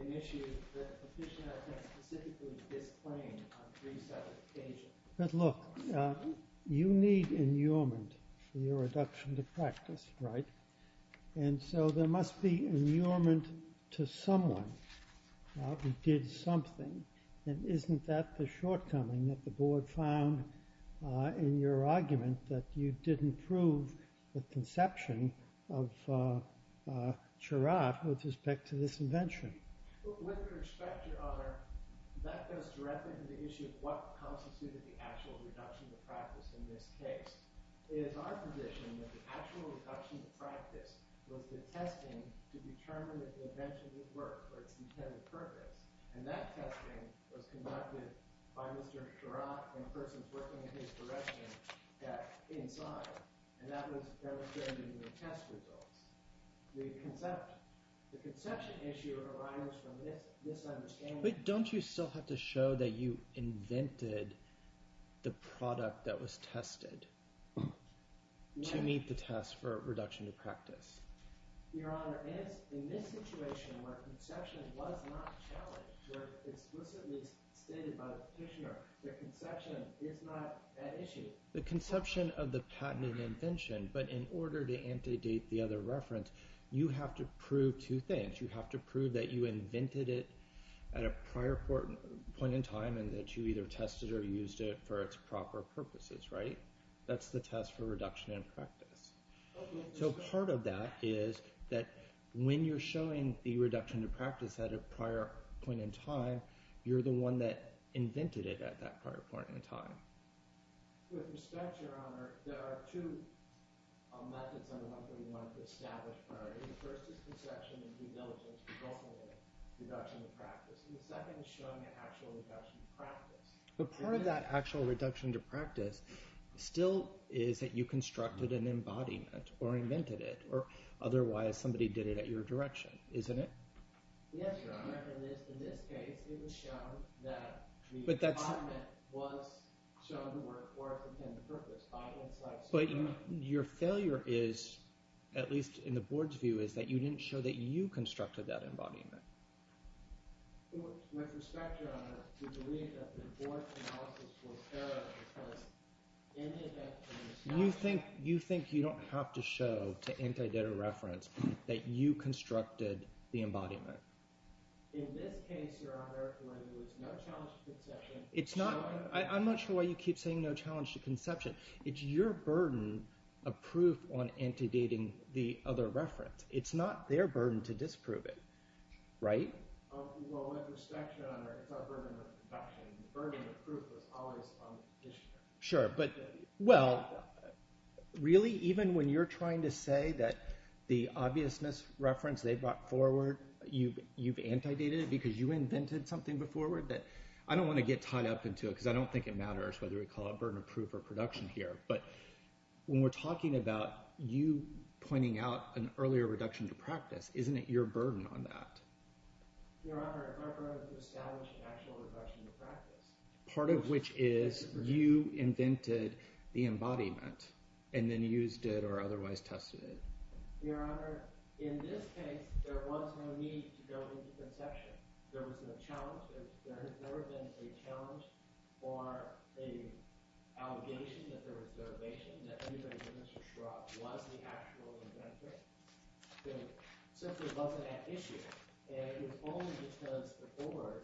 initiated that the position has been specifically disclaimed on three separate occasions. But look, you need inurement for your reduction to practice, right? And so there must be inurement to someone who did something. And isn't that the shortcoming that the board found in your argument that you didn't prove the conception of Charat with respect to this invention? With respect, Your Honor, that goes directly to the issue of what constitutes the actual reduction to practice in this case. It is our position that the actual reduction to practice was the testing to determine if the invention did work for its intended purpose. And that testing was conducted by Mr. Charat and persons working in his direction back inside. And that was demonstrated in the test results. The conception issue arises from this misunderstanding. But don't you still have to show that you invented the product that was tested to meet the test for reduction to practice? Your Honor, in this situation where conception was not challenged, where it's explicitly stated by the petitioner that conception is not at issue. The conception of the patented invention, but in order to antedate the other reference, you have to prove two things. You have to prove that you invented it at a prior point in time and that you either tested or used it for its proper purposes, right? That's the test for reduction in practice. So part of that is that when you're showing the reduction to practice at a prior point in time, you're the one that invented it at that prior point in time. With respect, Your Honor, there are two methods under 131 to establish priority. The first is conception and due diligence, which also mean reduction to practice. And the second is showing an actual reduction to practice. But part of that actual reduction to practice still is that you constructed an embodiment or invented it, or otherwise somebody did it at your direction, isn't it? Yes, Your Honor. In this case, it was shown that the embodiment was shown to work for its intended purpose. But your failure is, at least in the board's view, is that you didn't show that you constructed that embodiment. With respect, Your Honor, we believe that the board's analysis was error because in it had been established. You think you don't have to show to anti-data reference that you constructed the embodiment? In this case, Your Honor, it was no challenge to conception. I'm not sure why you keep saying no challenge to conception. It's your burden of proof on anti-dating the other reference. It's not their burden to disprove it, right? Well, with respect, Your Honor, it's our burden of production. The burden of proof was always on the petitioner. Sure, but – well, really, even when you're trying to say that the obvious misreference they brought forward, you've anti-dated it because you invented something before? I don't want to get tied up into it because I don't think it matters whether we call it burden of proof or production here. But when we're talking about you pointing out an earlier reduction to practice, isn't it your burden on that? Your Honor, our burden is to establish an actual reduction to practice. Part of which is you invented the embodiment and then used it or otherwise tested it. Your Honor, in this case, there was no need to go into conception. There was no challenge. There has never been a challenge or an allegation that there was derivation, that anything that Mr. Schropp was the actual inventor. It simply wasn't an issue. And it was only because the court,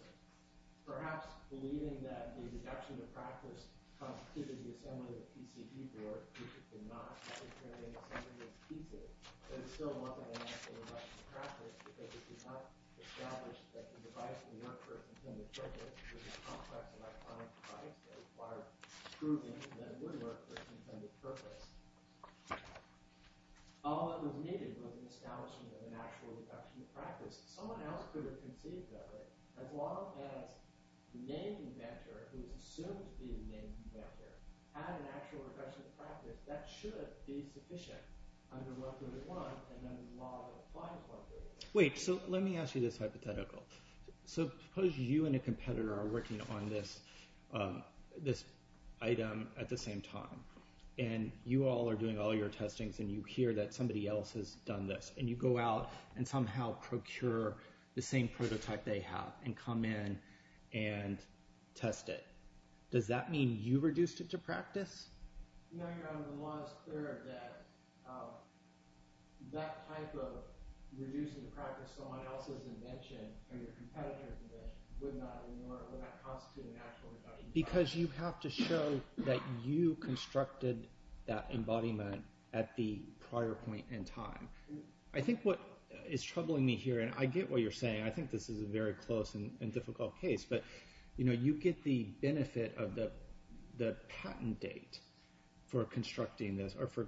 perhaps believing that the reduction to practice comes through the assembly of the PCE board, which it did not. But it still wasn't an actual reduction to practice because it did not establish that the device would work for its intended purpose. It was a complex electronic device that required proving that it would work for its intended purpose. All that was needed was an establishment of an actual reduction to practice. Someone else could have conceived of it. As long as the named inventor, who is assumed to be the named inventor, had an actual reduction to practice, that should be sufficient under 131 and under the law that applies 131. Does that mean you reduced it to practice? No, Your Honor. The law is clear that that type of reducing to practice someone else's invention or your competitor's invention would not constitute an actual embodiment. Because you have to show that you constructed that embodiment at the prior point in time. I think what is troubling me here, and I get what you're saying. I think this is a very close and difficult case. But you get the benefit of the patent date for constructing this or for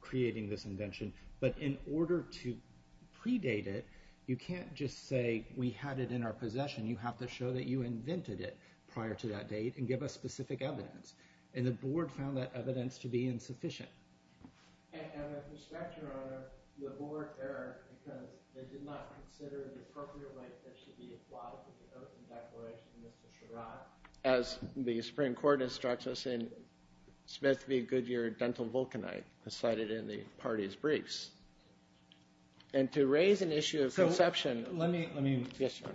creating this invention. But in order to predate it, you can't just say we had it in our possession. You have to show that you invented it prior to that date and give us specific evidence. And the board found that evidence to be insufficient. And with respect, Your Honor, the board there, because they did not consider the appropriate weight that should be applied to the oath and declaration of Mr. Sherratt. As the Supreme Court instructs us in Smith v. Goodyear, dental vulcanite, cited in the party's briefs. And to raise an issue of conception. Let me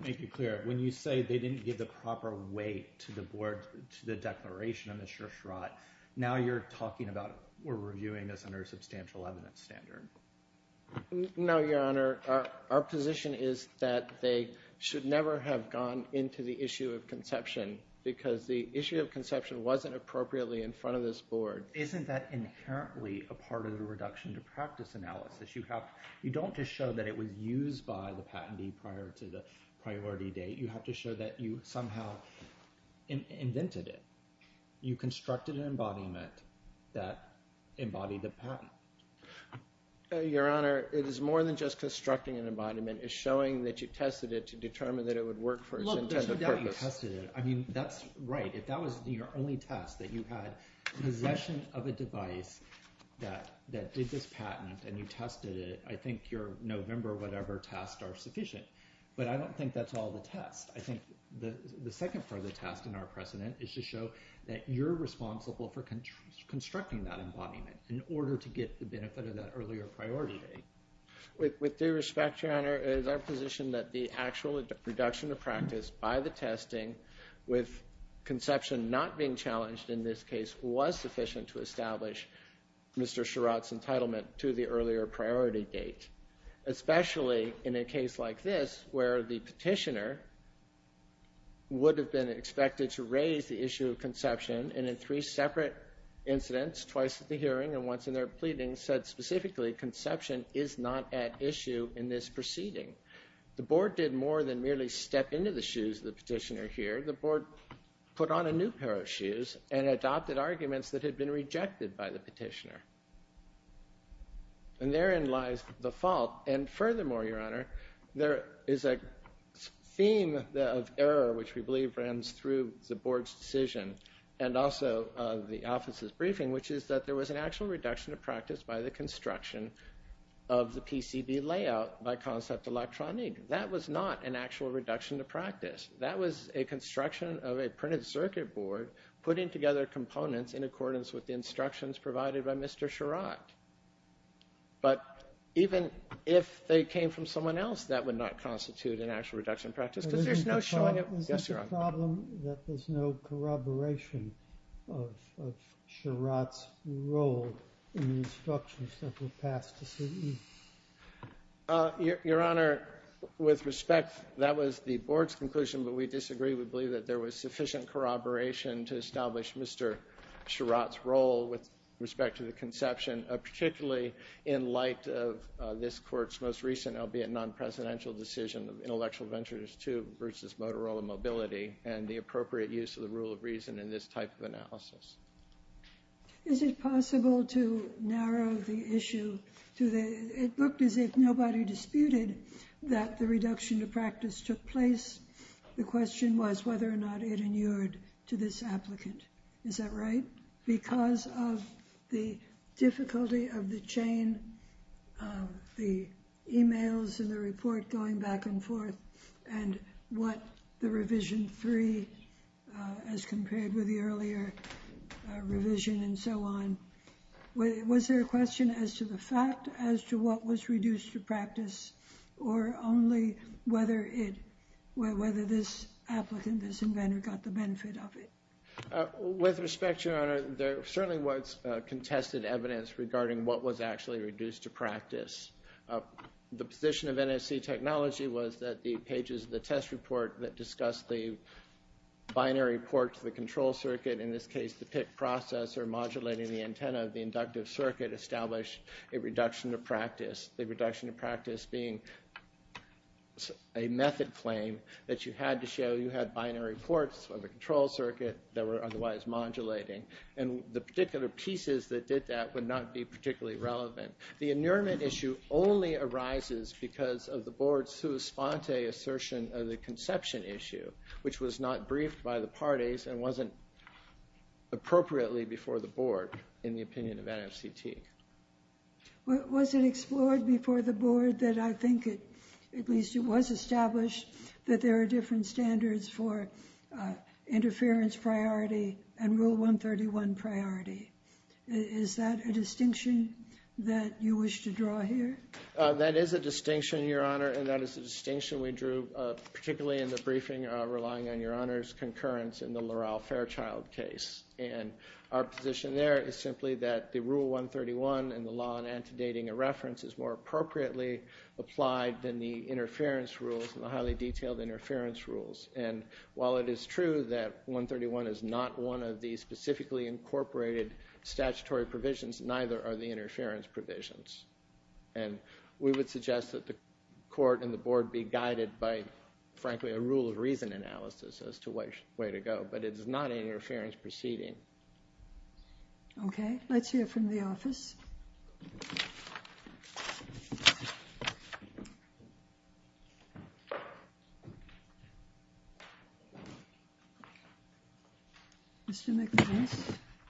make it clear. When you say they didn't give the proper weight to the board, to the declaration of Mr. Sherratt. Now you're talking about we're reviewing this under a substantial evidence standard. No, Your Honor. Our position is that they should never have gone into the issue of conception. Because the issue of conception wasn't appropriately in front of this board. Isn't that inherently a part of the reduction to practice analysis? You don't just show that it was used by the patentee prior to the priority date. You have to show that you somehow invented it. You constructed an embodiment that embodied the patent. Your Honor, it is more than just constructing an embodiment. It's showing that you tested it to determine that it would work for its intended purpose. Look, there's no doubt you tested it. I mean, that's right. If that was your only test, that you had possession of a device that did this patent and you tested it. I think your November whatever test are sufficient. But I don't think that's all the test. I think the second part of the test in our precedent is to show that you're responsible for constructing that embodiment. In order to get the benefit of that earlier priority date. With due respect, your Honor, it is our position that the actual reduction of practice by the testing with conception not being challenged in this case was sufficient to establish Mr. Sherratt's entitlement to the earlier priority date. Especially in a case like this where the petitioner would have been expected to raise the issue of conception. And in three separate incidents, twice at the hearing and once in their pleading, said specifically conception is not at issue in this proceeding. The board did more than merely step into the shoes of the petitioner here. The board put on a new pair of shoes and adopted arguments that had been rejected by the petitioner. And therein lies the fault. And furthermore, your Honor, there is a theme of error which we believe runs through the board's decision and also the office's briefing. Which is that there was an actual reduction of practice by the construction of the PCB layout by Concept Electronique. That was not an actual reduction of practice. That was a construction of a printed circuit board putting together components in accordance with the instructions provided by Mr. Sherratt. But even if they came from someone else, that would not constitute an actual reduction of practice. Because there's no showing of... Is this a problem that there's no corroboration of Sherratt's role in the instructions that were passed to CDE? Your Honor, with respect, that was the board's conclusion. But we disagree. We believe that there was sufficient corroboration to establish Mr. Sherratt's role with respect to the conception, particularly in light of this Court's most recent, albeit non-presidential, decision of Intellectual Ventures II versus Motorola Mobility and the appropriate use of the rule of reason in this type of analysis. Is it possible to narrow the issue to the... It looked as if nobody disputed that the reduction of practice took place. The question was whether or not it inured to this applicant. Is that right? Because of the difficulty of the chain, the emails and the report going back and forth, and what the revision three has compared with the earlier revision and so on, was there a question as to the fact as to what was reduced to practice or only whether this applicant, this inventor, got the benefit of it? With respect, Your Honor, there certainly was contested evidence regarding what was actually reduced to practice. The position of NSC technology was that the pages of the test report that discussed the binary port to the control circuit, in this case the PIT process or modulating the antenna of the inductive circuit, established a reduction of practice. The reduction of practice being a method claim that you had to show you had binary ports of the control circuit that were otherwise modulating. And the particular pieces that did that would not be particularly relevant. The inurement issue only arises because of the Board's sua sponte assertion of the conception issue, which was not briefed by the parties and wasn't appropriately before the Board in the opinion of NFCT. Was it explored before the Board that I think, at least it was established, that there are different standards for interference priority and Rule 131 priority? Is that a distinction that you wish to draw here? That is a distinction, Your Honor, and that is a distinction we drew particularly in the briefing relying on Your Honor's concurrence in the Laurel Fairchild case. And our position there is simply that the Rule 131 and the law in antedating a reference is more appropriately applied than the interference rules and the highly detailed interference rules. And while it is true that 131 is not one of the specifically incorporated statutory provisions, neither are the interference provisions. And we would suggest that the Court and the Board be guided by, frankly, a rule of reason analysis as to which way to go. But it is not an interference proceeding. Okay. Let's hear from the office.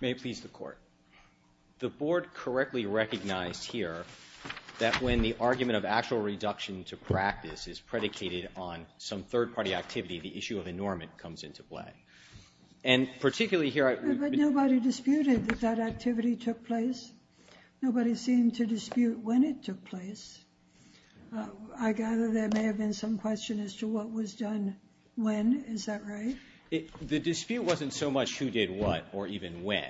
May it please the Court. The Board correctly recognized here that when the argument of actual reduction to practice is predicated on some third-party activity, the issue of enormous comes into play. And particularly here I would be. But nobody disputed that that activity took place. Nobody seemed to dispute when it took place. I gather there may have been some question as to what was done when. Is that right? The dispute wasn't so much who did what or even when.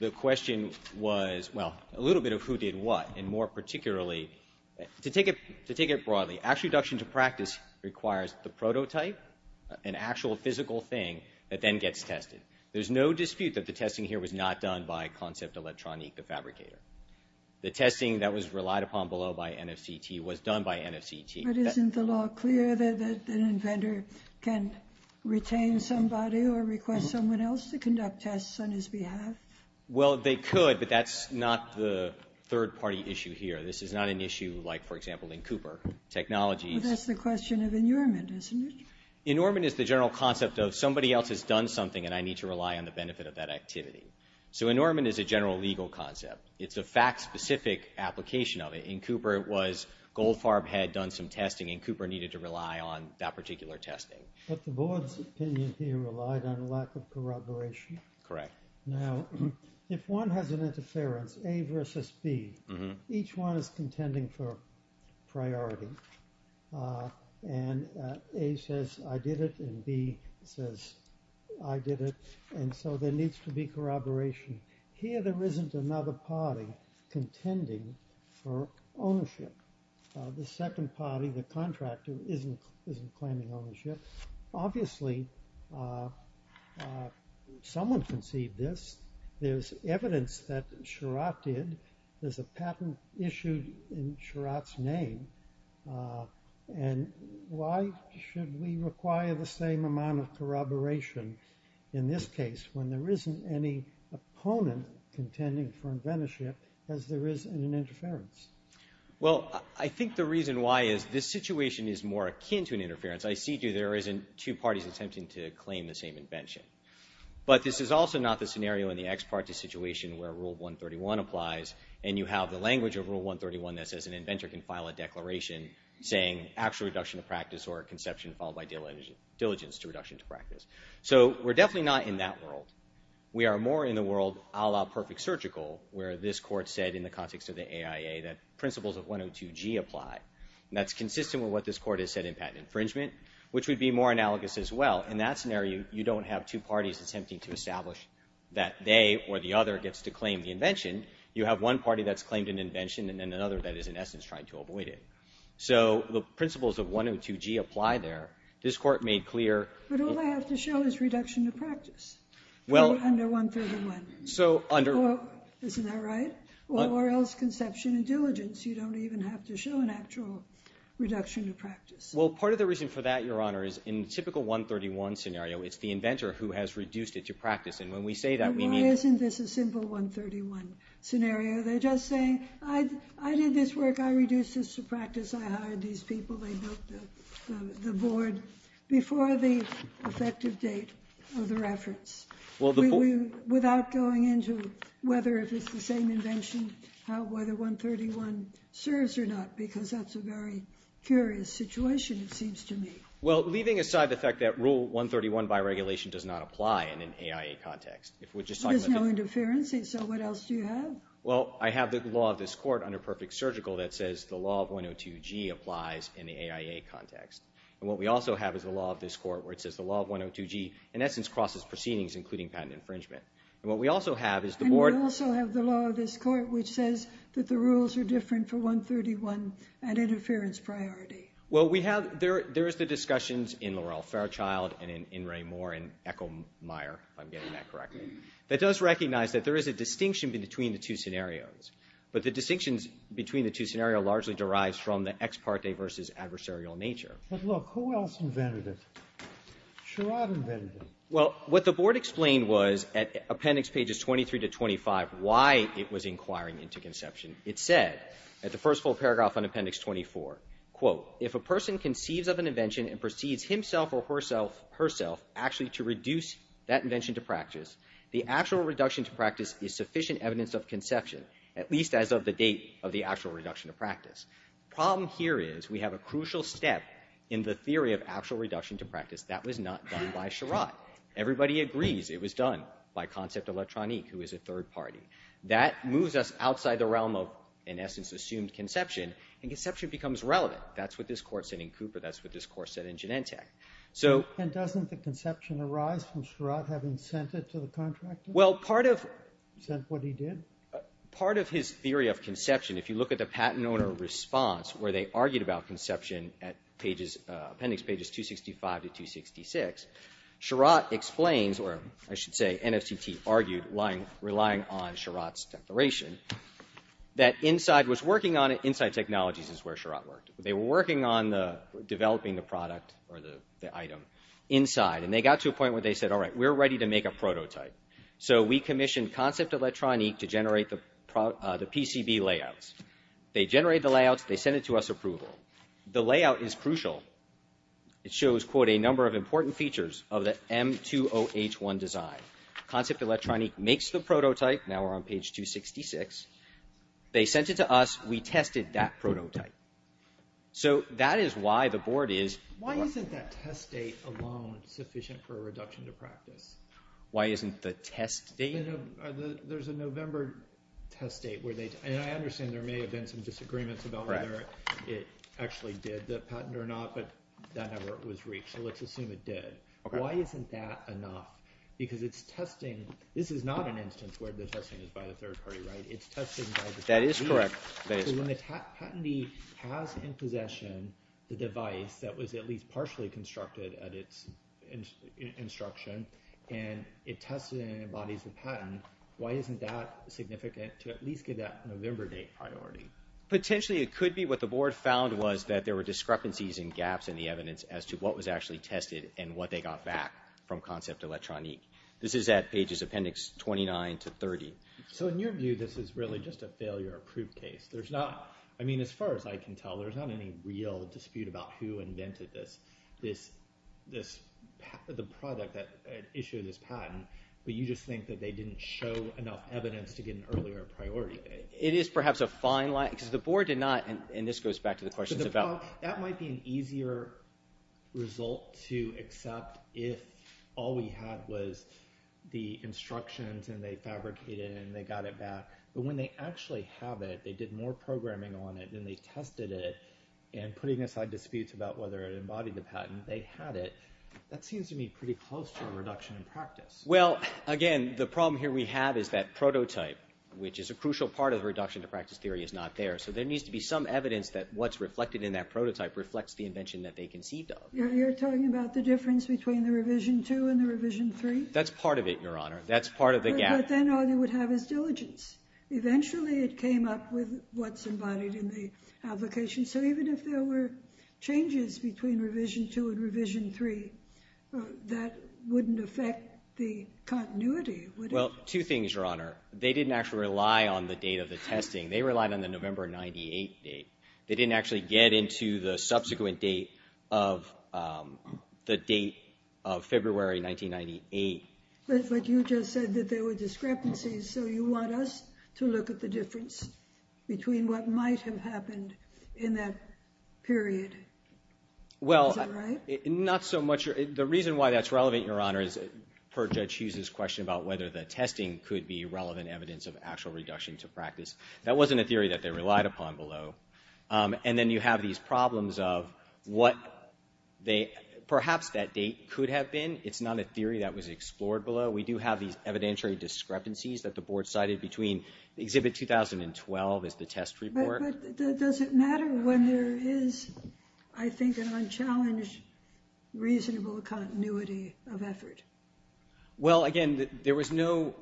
The question was, well, a little bit of who did what, and more particularly, to take it broadly, actual reduction to practice requires the prototype, an actual physical thing that then gets tested. There's no dispute that the testing here was not done by Concept Electronique, the fabricator. The testing that was relied upon below by NFCT was done by NFCT. But isn't the law clear that an inventor can retain somebody or request someone else to conduct tests on his behalf? Well, they could, but that's not the third-party issue here. This is not an issue like, for example, in Cooper Technologies. Well, that's the question of enormous, isn't it? Enormous is the general concept of somebody else has done something, and I need to rely on the benefit of that activity. So enormous is a general legal concept. It's a fact-specific application of it. In Cooper it was Goldfarb had done some testing, and Cooper needed to rely on that particular testing. But the board's opinion here relied on lack of corroboration. Correct. Now, if one has an interference, A versus B, each one is contending for priority. And A says, I did it, and B says, I did it. And so there needs to be corroboration. Here there isn't another party contending for ownership. The second party, the contractor, isn't claiming ownership. Obviously, someone conceived this. There's evidence that Sherratt did. There's a patent issued in Sherratt's name. And why should we require the same amount of corroboration in this case when there isn't any opponent contending for inventorship as there is in an interference? Well, I think the reason why is this situation is more akin to an interference. I see, too, there isn't two parties attempting to claim the same invention. But this is also not the scenario in the ex parte situation where Rule 131 applies, and you have the language of Rule 131 that says an inventor can file a declaration saying actual reduction of practice or conception followed by diligence to reduction to practice. So we're definitely not in that world. We are more in the world a la Perfect Surgical where this Court said in the context of the AIA that principles of 102G apply. And that's consistent with what this Court has said in patent infringement, which would be more analogous as well. In that scenario, you don't have two parties attempting to establish that they or the other gets to claim the invention. You have one party that's claimed an invention and then another that is, in essence, trying to avoid it. So the principles of 102G apply there. This Court made clear... But all I have to show is reduction of practice. Well... Under 131. So under... Isn't that right? Or else conception and diligence. You don't even have to show an actual reduction of practice. Well, part of the reason for that, Your Honor, is in typical 131 scenario, it's the inventor who has reduced it to practice. And when we say that, we mean... Well, why isn't this a simple 131 scenario? They're just saying I did this work, I reduced this to practice, I hired these people, they built the board, before the effective date of the reference. Without going into whether if it's the same invention, whether 131 serves or not, because that's a very curious situation, it seems to me. Well, leaving aside the fact that Rule 131 by regulation does not apply in an AIA context. There's no interference, so what else do you have? Well, I have the law of this Court under perfect surgical that says the law of 102G applies in the AIA context. And what we also have is the law of this Court where it says the law of 102G, in essence, crosses proceedings, including patent infringement. And what we also have is the board... And we also have the law of this Court, which says that the rules are different for 131 at interference priority. Well, we have... There is the discussions in Laurell Fairchild and in Ray Moore and Echo Meyer, if I'm getting that correctly, that does recognize that there is a distinction between the two scenarios. But the distinctions between the two scenarios largely derives from the ex parte versus adversarial nature. But look, who else invented it? Sherrod invented it. Well, what the board explained was at Appendix Pages 23 to 25 why it was inquiring into conception. It said at the first full paragraph on Appendix 24, quote, if a person conceives of an invention and proceeds himself or herself actually to reduce that invention to practice, the actual reduction to practice is sufficient evidence of conception at least as of the date of the actual reduction to practice. The problem here is we have a crucial step in the theory of actual reduction to practice that was not done by Sherrod. Everybody agrees it was done by Concept Electronique, who is a third party. That moves us outside the realm of, in essence, assumed conception, and conception becomes relevant. That's what this Court said in Cooper. That's what this Court said in Genentech. So... And doesn't the conception arise from Sherrod having sent it to the contractor? Well, part of... Is that what he did? Part of his theory of conception, if you look at the patent owner response where they argued about conception at Appendix Pages 265 to 266, Sherrod explains, or I should say, NFCT argued relying on Sherrod's declaration that Inside Technologies is where Sherrod worked. They were working on developing the product or the item inside, and they got to a point where they said, all right, we're ready to make a prototype. So we commissioned Concept Electronique to generate the PCB layouts. They generate the layouts. They send it to us for approval. The layout is crucial. It shows, quote, a number of important features of the M2OH1 design. Concept Electronique makes the prototype. Now we're on Page 266. They sent it to us. We tested that prototype. So that is why the Board is... Why isn't that test date alone sufficient for a reduction to practice? Why isn't the test date... There's a November test date where they... And I understand there may have been some disagreements about whether it actually did the patent or not, but that effort was reached, so let's assume it did. Why isn't that enough? Because it's testing... This is not an instance where the testing is by a third party, right? It's testing by the... That is correct. So when the patentee has in possession the device that was at least partially constructed at its instruction, and it tested it and it embodies the patent, why isn't that significant to at least get that November date priority? Potentially it could be what the Board found was that there were discrepancies and gaps in the evidence as to what was actually tested and what they got back from Concept Electronique. This is at pages appendix 29 to 30. So in your view, this is really just a failure-approved case. There's not... I mean, as far as I can tell, there's not any real dispute about who invented this. The product that issued this patent, but you just think that they didn't show enough evidence to get an earlier priority date. It is perhaps a fine line, because the Board did not... And this goes back to the questions about... That might be an easier result to accept if all we had was the instructions, and they fabricated it, and they got it back. But when they actually have it, they did more programming on it than they tested it, and putting aside disputes about whether it embodied the patent, when they had it, that seems to me pretty close to a reduction in practice. Well, again, the problem here we have is that prototype, which is a crucial part of the reduction-to-practice theory, is not there. So there needs to be some evidence that what's reflected in that prototype reflects the invention that they conceived of. You're talking about the difference between the Revision 2 and the Revision 3? That's part of it, Your Honor. That's part of the gap. But then all you would have is diligence. Eventually, it came up with what's embodied in the application. So even if there were changes between Revision 2 and Revision 3, that wouldn't affect the continuity, would it? Well, two things, Your Honor. They didn't actually rely on the date of the testing. They relied on the November 98 date. They didn't actually get into the subsequent date of the date of February 1998. But you just said that there were discrepancies, so you want us to look at the difference between what might have happened in that period. Is that right? Well, not so much. The reason why that's relevant, Your Honor, is per Judge Hughes's question about whether the testing could be relevant evidence of actual reduction-to-practice. That wasn't a theory that they relied upon below. And then you have these problems of what perhaps that date could have been. It's not a theory that was explored below. We do have these evidentiary discrepancies that the Board cited between Exhibit 2012 as the test report. But does it matter when there is, I think, an unchallenged reasonable continuity of effort? Well, again, there was no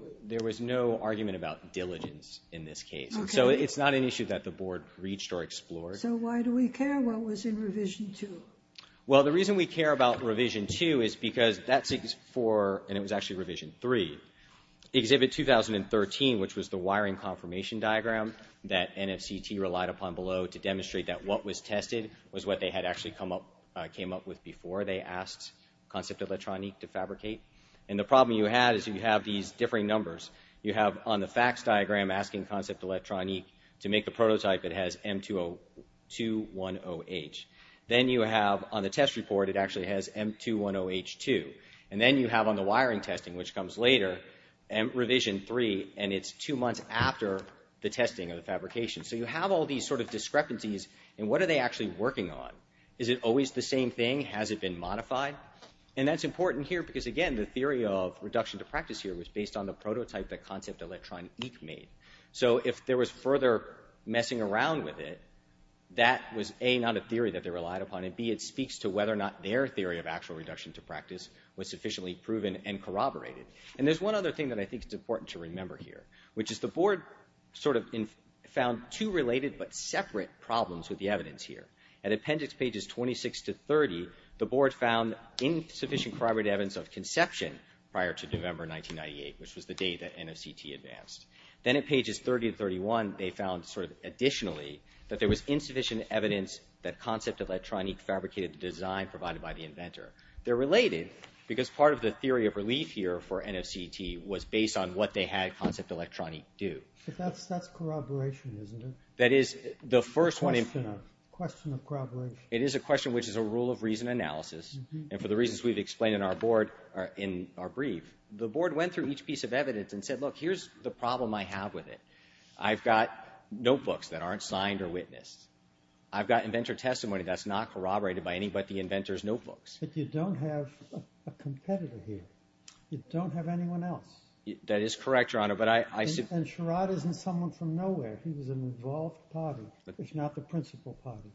argument about diligence in this case. Okay. So it's not an issue that the Board reached or explored. So why do we care what was in Revision 2? Well, the reason we care about Revision 2 is because that's for, and it was actually Revision 3, Exhibit 2013, which was the wiring confirmation diagram that NFCT relied upon below to demonstrate that what was tested was what they had actually came up with before they asked Concept Electronique to fabricate. And the problem you had is you have these differing numbers. You have on the facts diagram, asking Concept Electronique to make the prototype that has M210H. Then you have on the test report, it actually has M210H2. And then you have on the wiring testing, which comes later, Revision 3, and it's two months after the testing of the fabrication. So you have all these sort of discrepancies, and what are they actually working on? Is it always the same thing? Has it been modified? And that's important here because, again, the theory of reduction to practice here was based on the prototype that Concept Electronique made. So if there was further messing around with it, that was, A, not a theory that they relied upon, and, B, it speaks to whether or not their theory of actual reduction to practice was sufficiently proven and corroborated. And there's one other thing that I think is important to remember here, which is the board sort of found two related but separate problems with the evidence here. At appendix pages 26 to 30, the board found insufficient corroborated evidence of conception prior to November 1998, which was the date that NFCT advanced. Then at pages 30 to 31, they found sort of additionally that there was insufficient evidence that Concept Electronique fabricated the design provided by the inventor. They're related because part of the theory of relief here for NFCT was based on what they had Concept Electronique do. But that's corroboration, isn't it? That is the first one... Question of corroboration. It is a question which is a rule of reason analysis, and for the reasons we've explained in our brief, the board went through each piece of evidence and said, look, here's the problem I have with it. I've got notebooks that aren't signed or witnessed. I've got inventor testimony that's not corroborated by anybody but the inventor's notebooks. But you don't have a competitor here. You don't have anyone else. That is correct, Your Honor, but I... And Sherrod isn't someone from nowhere. He was an involved party, if not the principal party,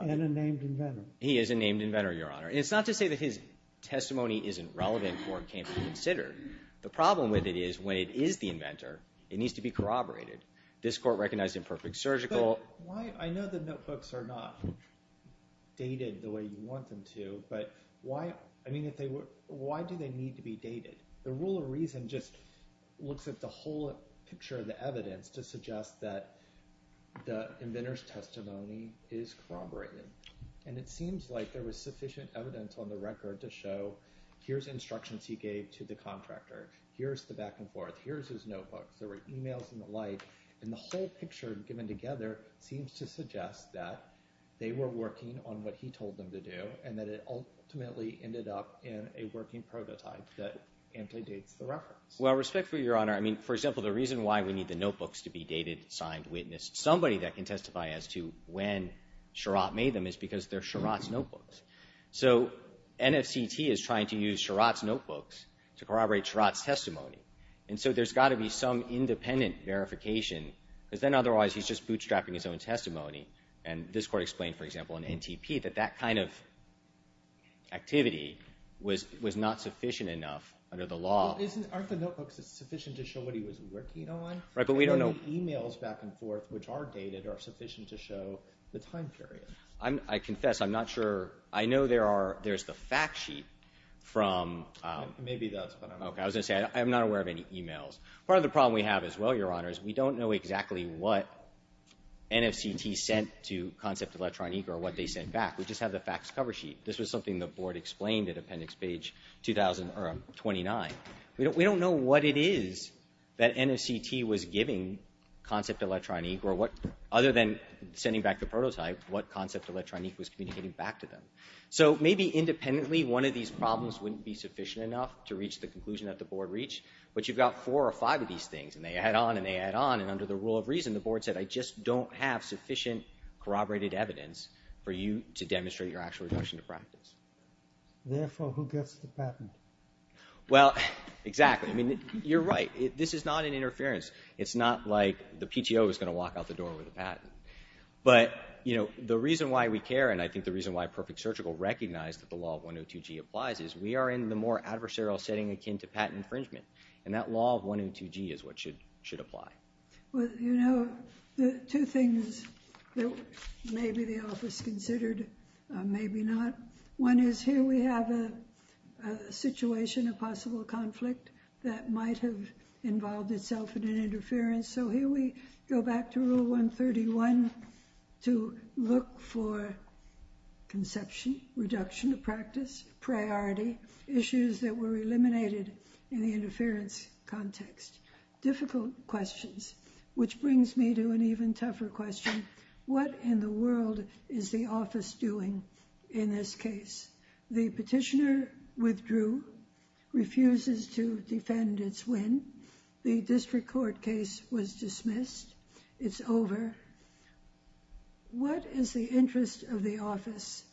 and a named inventor. He is a named inventor, Your Honor. And it's not to say that his testimony isn't relevant or can't be considered. The problem with it is when it is the inventor, it needs to be corroborated. This Court recognized imperfect surgical... But why... I know the notebooks are not dated the way you want them to, but why... I mean, if they were... Why do they need to be dated? The rule of reason just looks at the whole picture of the evidence to suggest that the inventor's testimony is corroborated. And it seems like there was sufficient evidence on the record to show, here's instructions he gave to the contractor. Here's the back and forth. Here's his notebooks. There were emails and the like. And the whole picture given together seems to suggest that they were working on what he told them to do and that it ultimately ended up in a working prototype that amply dates the reference. Well, respectfully, Your Honor, I mean, for example, the reason why we need the notebooks to be dated, signed, witnessed, somebody that can testify as to when Sherratt made them is because they're Sherratt's notebooks. So NFCT is trying to use Sherratt's notebooks to corroborate Sherratt's testimony. And so there's got to be some independent verification because then otherwise he's just bootstrapping his own testimony. And this Court explained, for example, in NTP, that that kind of activity was not sufficient enough under the law. Well, aren't the notebooks sufficient to show what he was working on? Right, but we don't know... And then the emails back and forth, which are dated, are sufficient to show the time period. I confess, I'm not sure. I know there's the fact sheet from... Maybe that's what I'm... Okay, I was going to say, I'm not aware of any emails. Part of the problem we have as well, Your Honor, is we don't know exactly what NFCT sent to Concept Electronique or what they sent back. We just have the facts cover sheet. This was something the Board explained at Appendix Page 29. We don't know what it is that NFCT was giving Concept Electronique or what, other than sending back the prototype, what Concept Electronique was communicating back to them. So maybe independently, one of these problems wouldn't be sufficient enough to reach the conclusion that the Board reached, but you've got four or five of these things and they add on and they add on and under the rule of reason, the Board said, I just don't have sufficient corroborated evidence for you to demonstrate your actual regression to practice. Therefore, who gets the patent? Well, exactly. I mean, you're right. This is not an interference. It's not like the PTO is going to walk out the door with a patent. But, you know, the reason why we care and I think the reason why Perfect Surgical recognized that the law of 102G applies is we are in the more adversarial setting akin to patent infringement. And that law of 102G is what should apply. Well, you know, the two things that maybe the office considered, maybe not. One is here we have a situation, a possible conflict that might have involved itself in an interference. So here we go back to Rule 131 to look for conception, reduction of practice, priority, issues that were eliminated in the interference context. Difficult questions, which brings me to an even tougher question. What in the world is the office doing in this case? The petitioner withdrew, refuses to defend its win. The district court case was dismissed. It's over. What is the interest of the office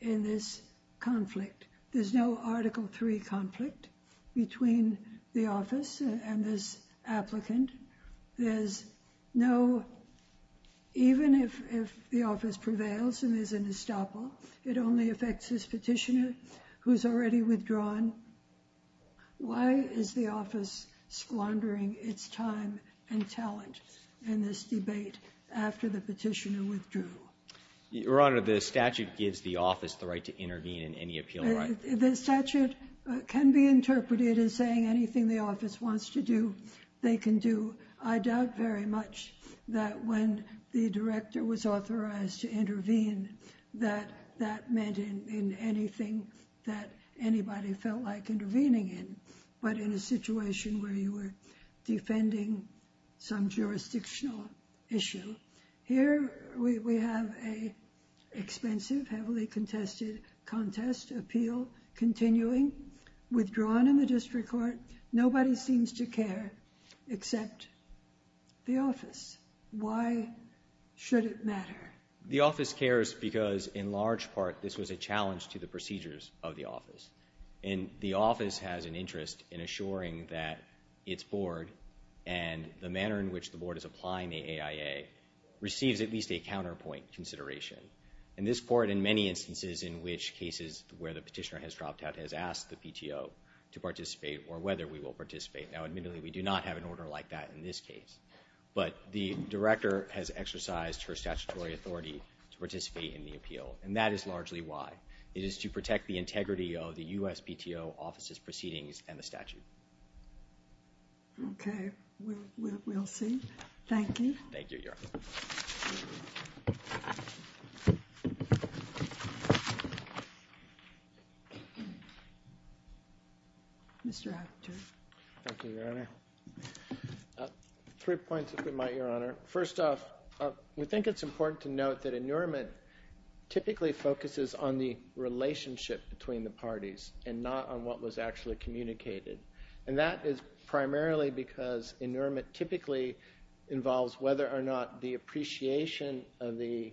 in this conflict? There's no Article III conflict between the office and this applicant. There's no, even if the office prevails and there's an estoppel, it only affects this petitioner who's already withdrawn. Why is the office squandering its time and talent in this debate after the petitioner withdrew? Your Honor, the statute gives the office the right to intervene in any appeal. The statute can be interpreted as saying anything the office wants to do, they can do. I doubt very much that when the director was authorized to intervene that that meant in anything that anybody felt like intervening in, but in a situation where you were defending some jurisdictional issue. Here we have a expensive, heavily contested contest, appeal continuing, withdrawn in the district court. Nobody seems to care except the office. Why should it matter? The office cares because in large part this was a challenge to the procedures of the office. And the office has an interest in assuring that its board and the manner in which the board is applying the AIA receives at least a counterpoint consideration. And this court in many instances in which cases where the petitioner has dropped out has asked the PTO to participate or whether we will participate. Now admittedly we do not have an order like that in this case, but the director has exercised her statutory authority to participate in the appeal, and that is largely why. It is to protect the integrity of the US PTO office's proceedings and the statute. Okay, we'll see. Thank you. Thank you, Your Honor. Mr. Abboud. Thank you, Your Honor. Three points, if we might, Your Honor. First off, we think it's important to note that inurement typically focuses on the relationship between the parties and not on what was actually communicated. And that is primarily because inurement typically involves whether or not the appreciation of the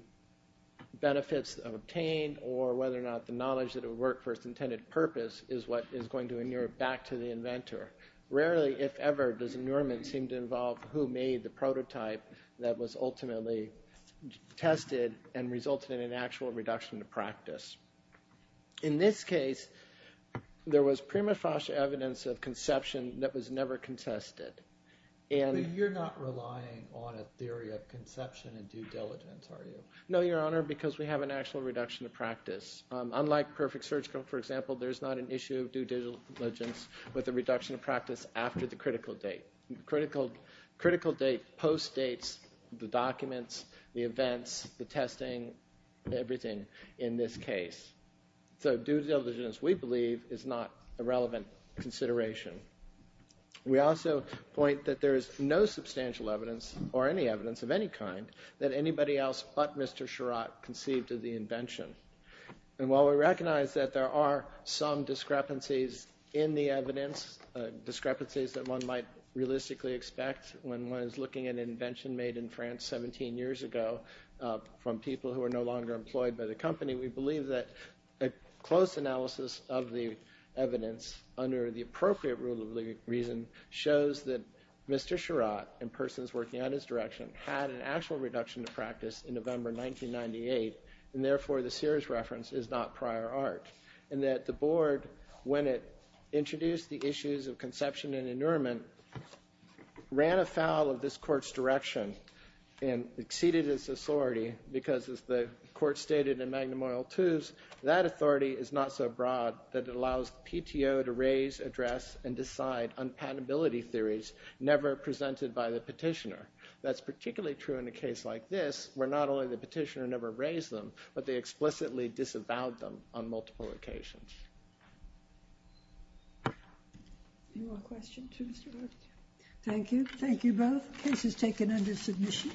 benefits obtained or whether or not the knowledge that it worked for its intended purpose is what is going to inure it back to the inventor. Rarely, if ever, does inurement seem to involve who made the prototype that was ultimately tested and resulted in an actual reduction to practice. In this case, there was prima facie evidence of conception that was never contested. But you're not relying on a theory of conception and due diligence, are you? No, Your Honor, because we have an actual reduction of practice. Unlike perfect surgical, for example, there's not an issue of due diligence with a reduction of practice after the critical date. The critical date post-dates the documents, the events, the testing, everything in this case. So due diligence, we believe, is not a relevant consideration. We also point that there is no substantial evidence, or any evidence of any kind, that anybody else but Mr. Chirot conceived of the invention. And while we recognize that there are some discrepancies in the evidence, discrepancies that one might realistically expect when one is looking at an invention made in France 17 years ago from people who are no longer employed by the company, we believe that a close analysis of the evidence under the appropriate rule of reason shows that Mr. Chirot and persons working at his direction had an actual reduction of practice in November 1998, and therefore the Sears reference is not prior art, and that the Board, when it introduced the issues of conception and inurement, ran afoul of this Court's direction and exceeded its authority because, as the Court stated in Magnum Oil II, that authority is not so broad that it allows the PTO to raise, address, and decide on patentability theories never presented by the petitioner. That's particularly true in a case like this, where not only the petitioner never raised them, but they explicitly disavowed them on multiple occasions. Thank you. Thank you both. Case is taken under submission.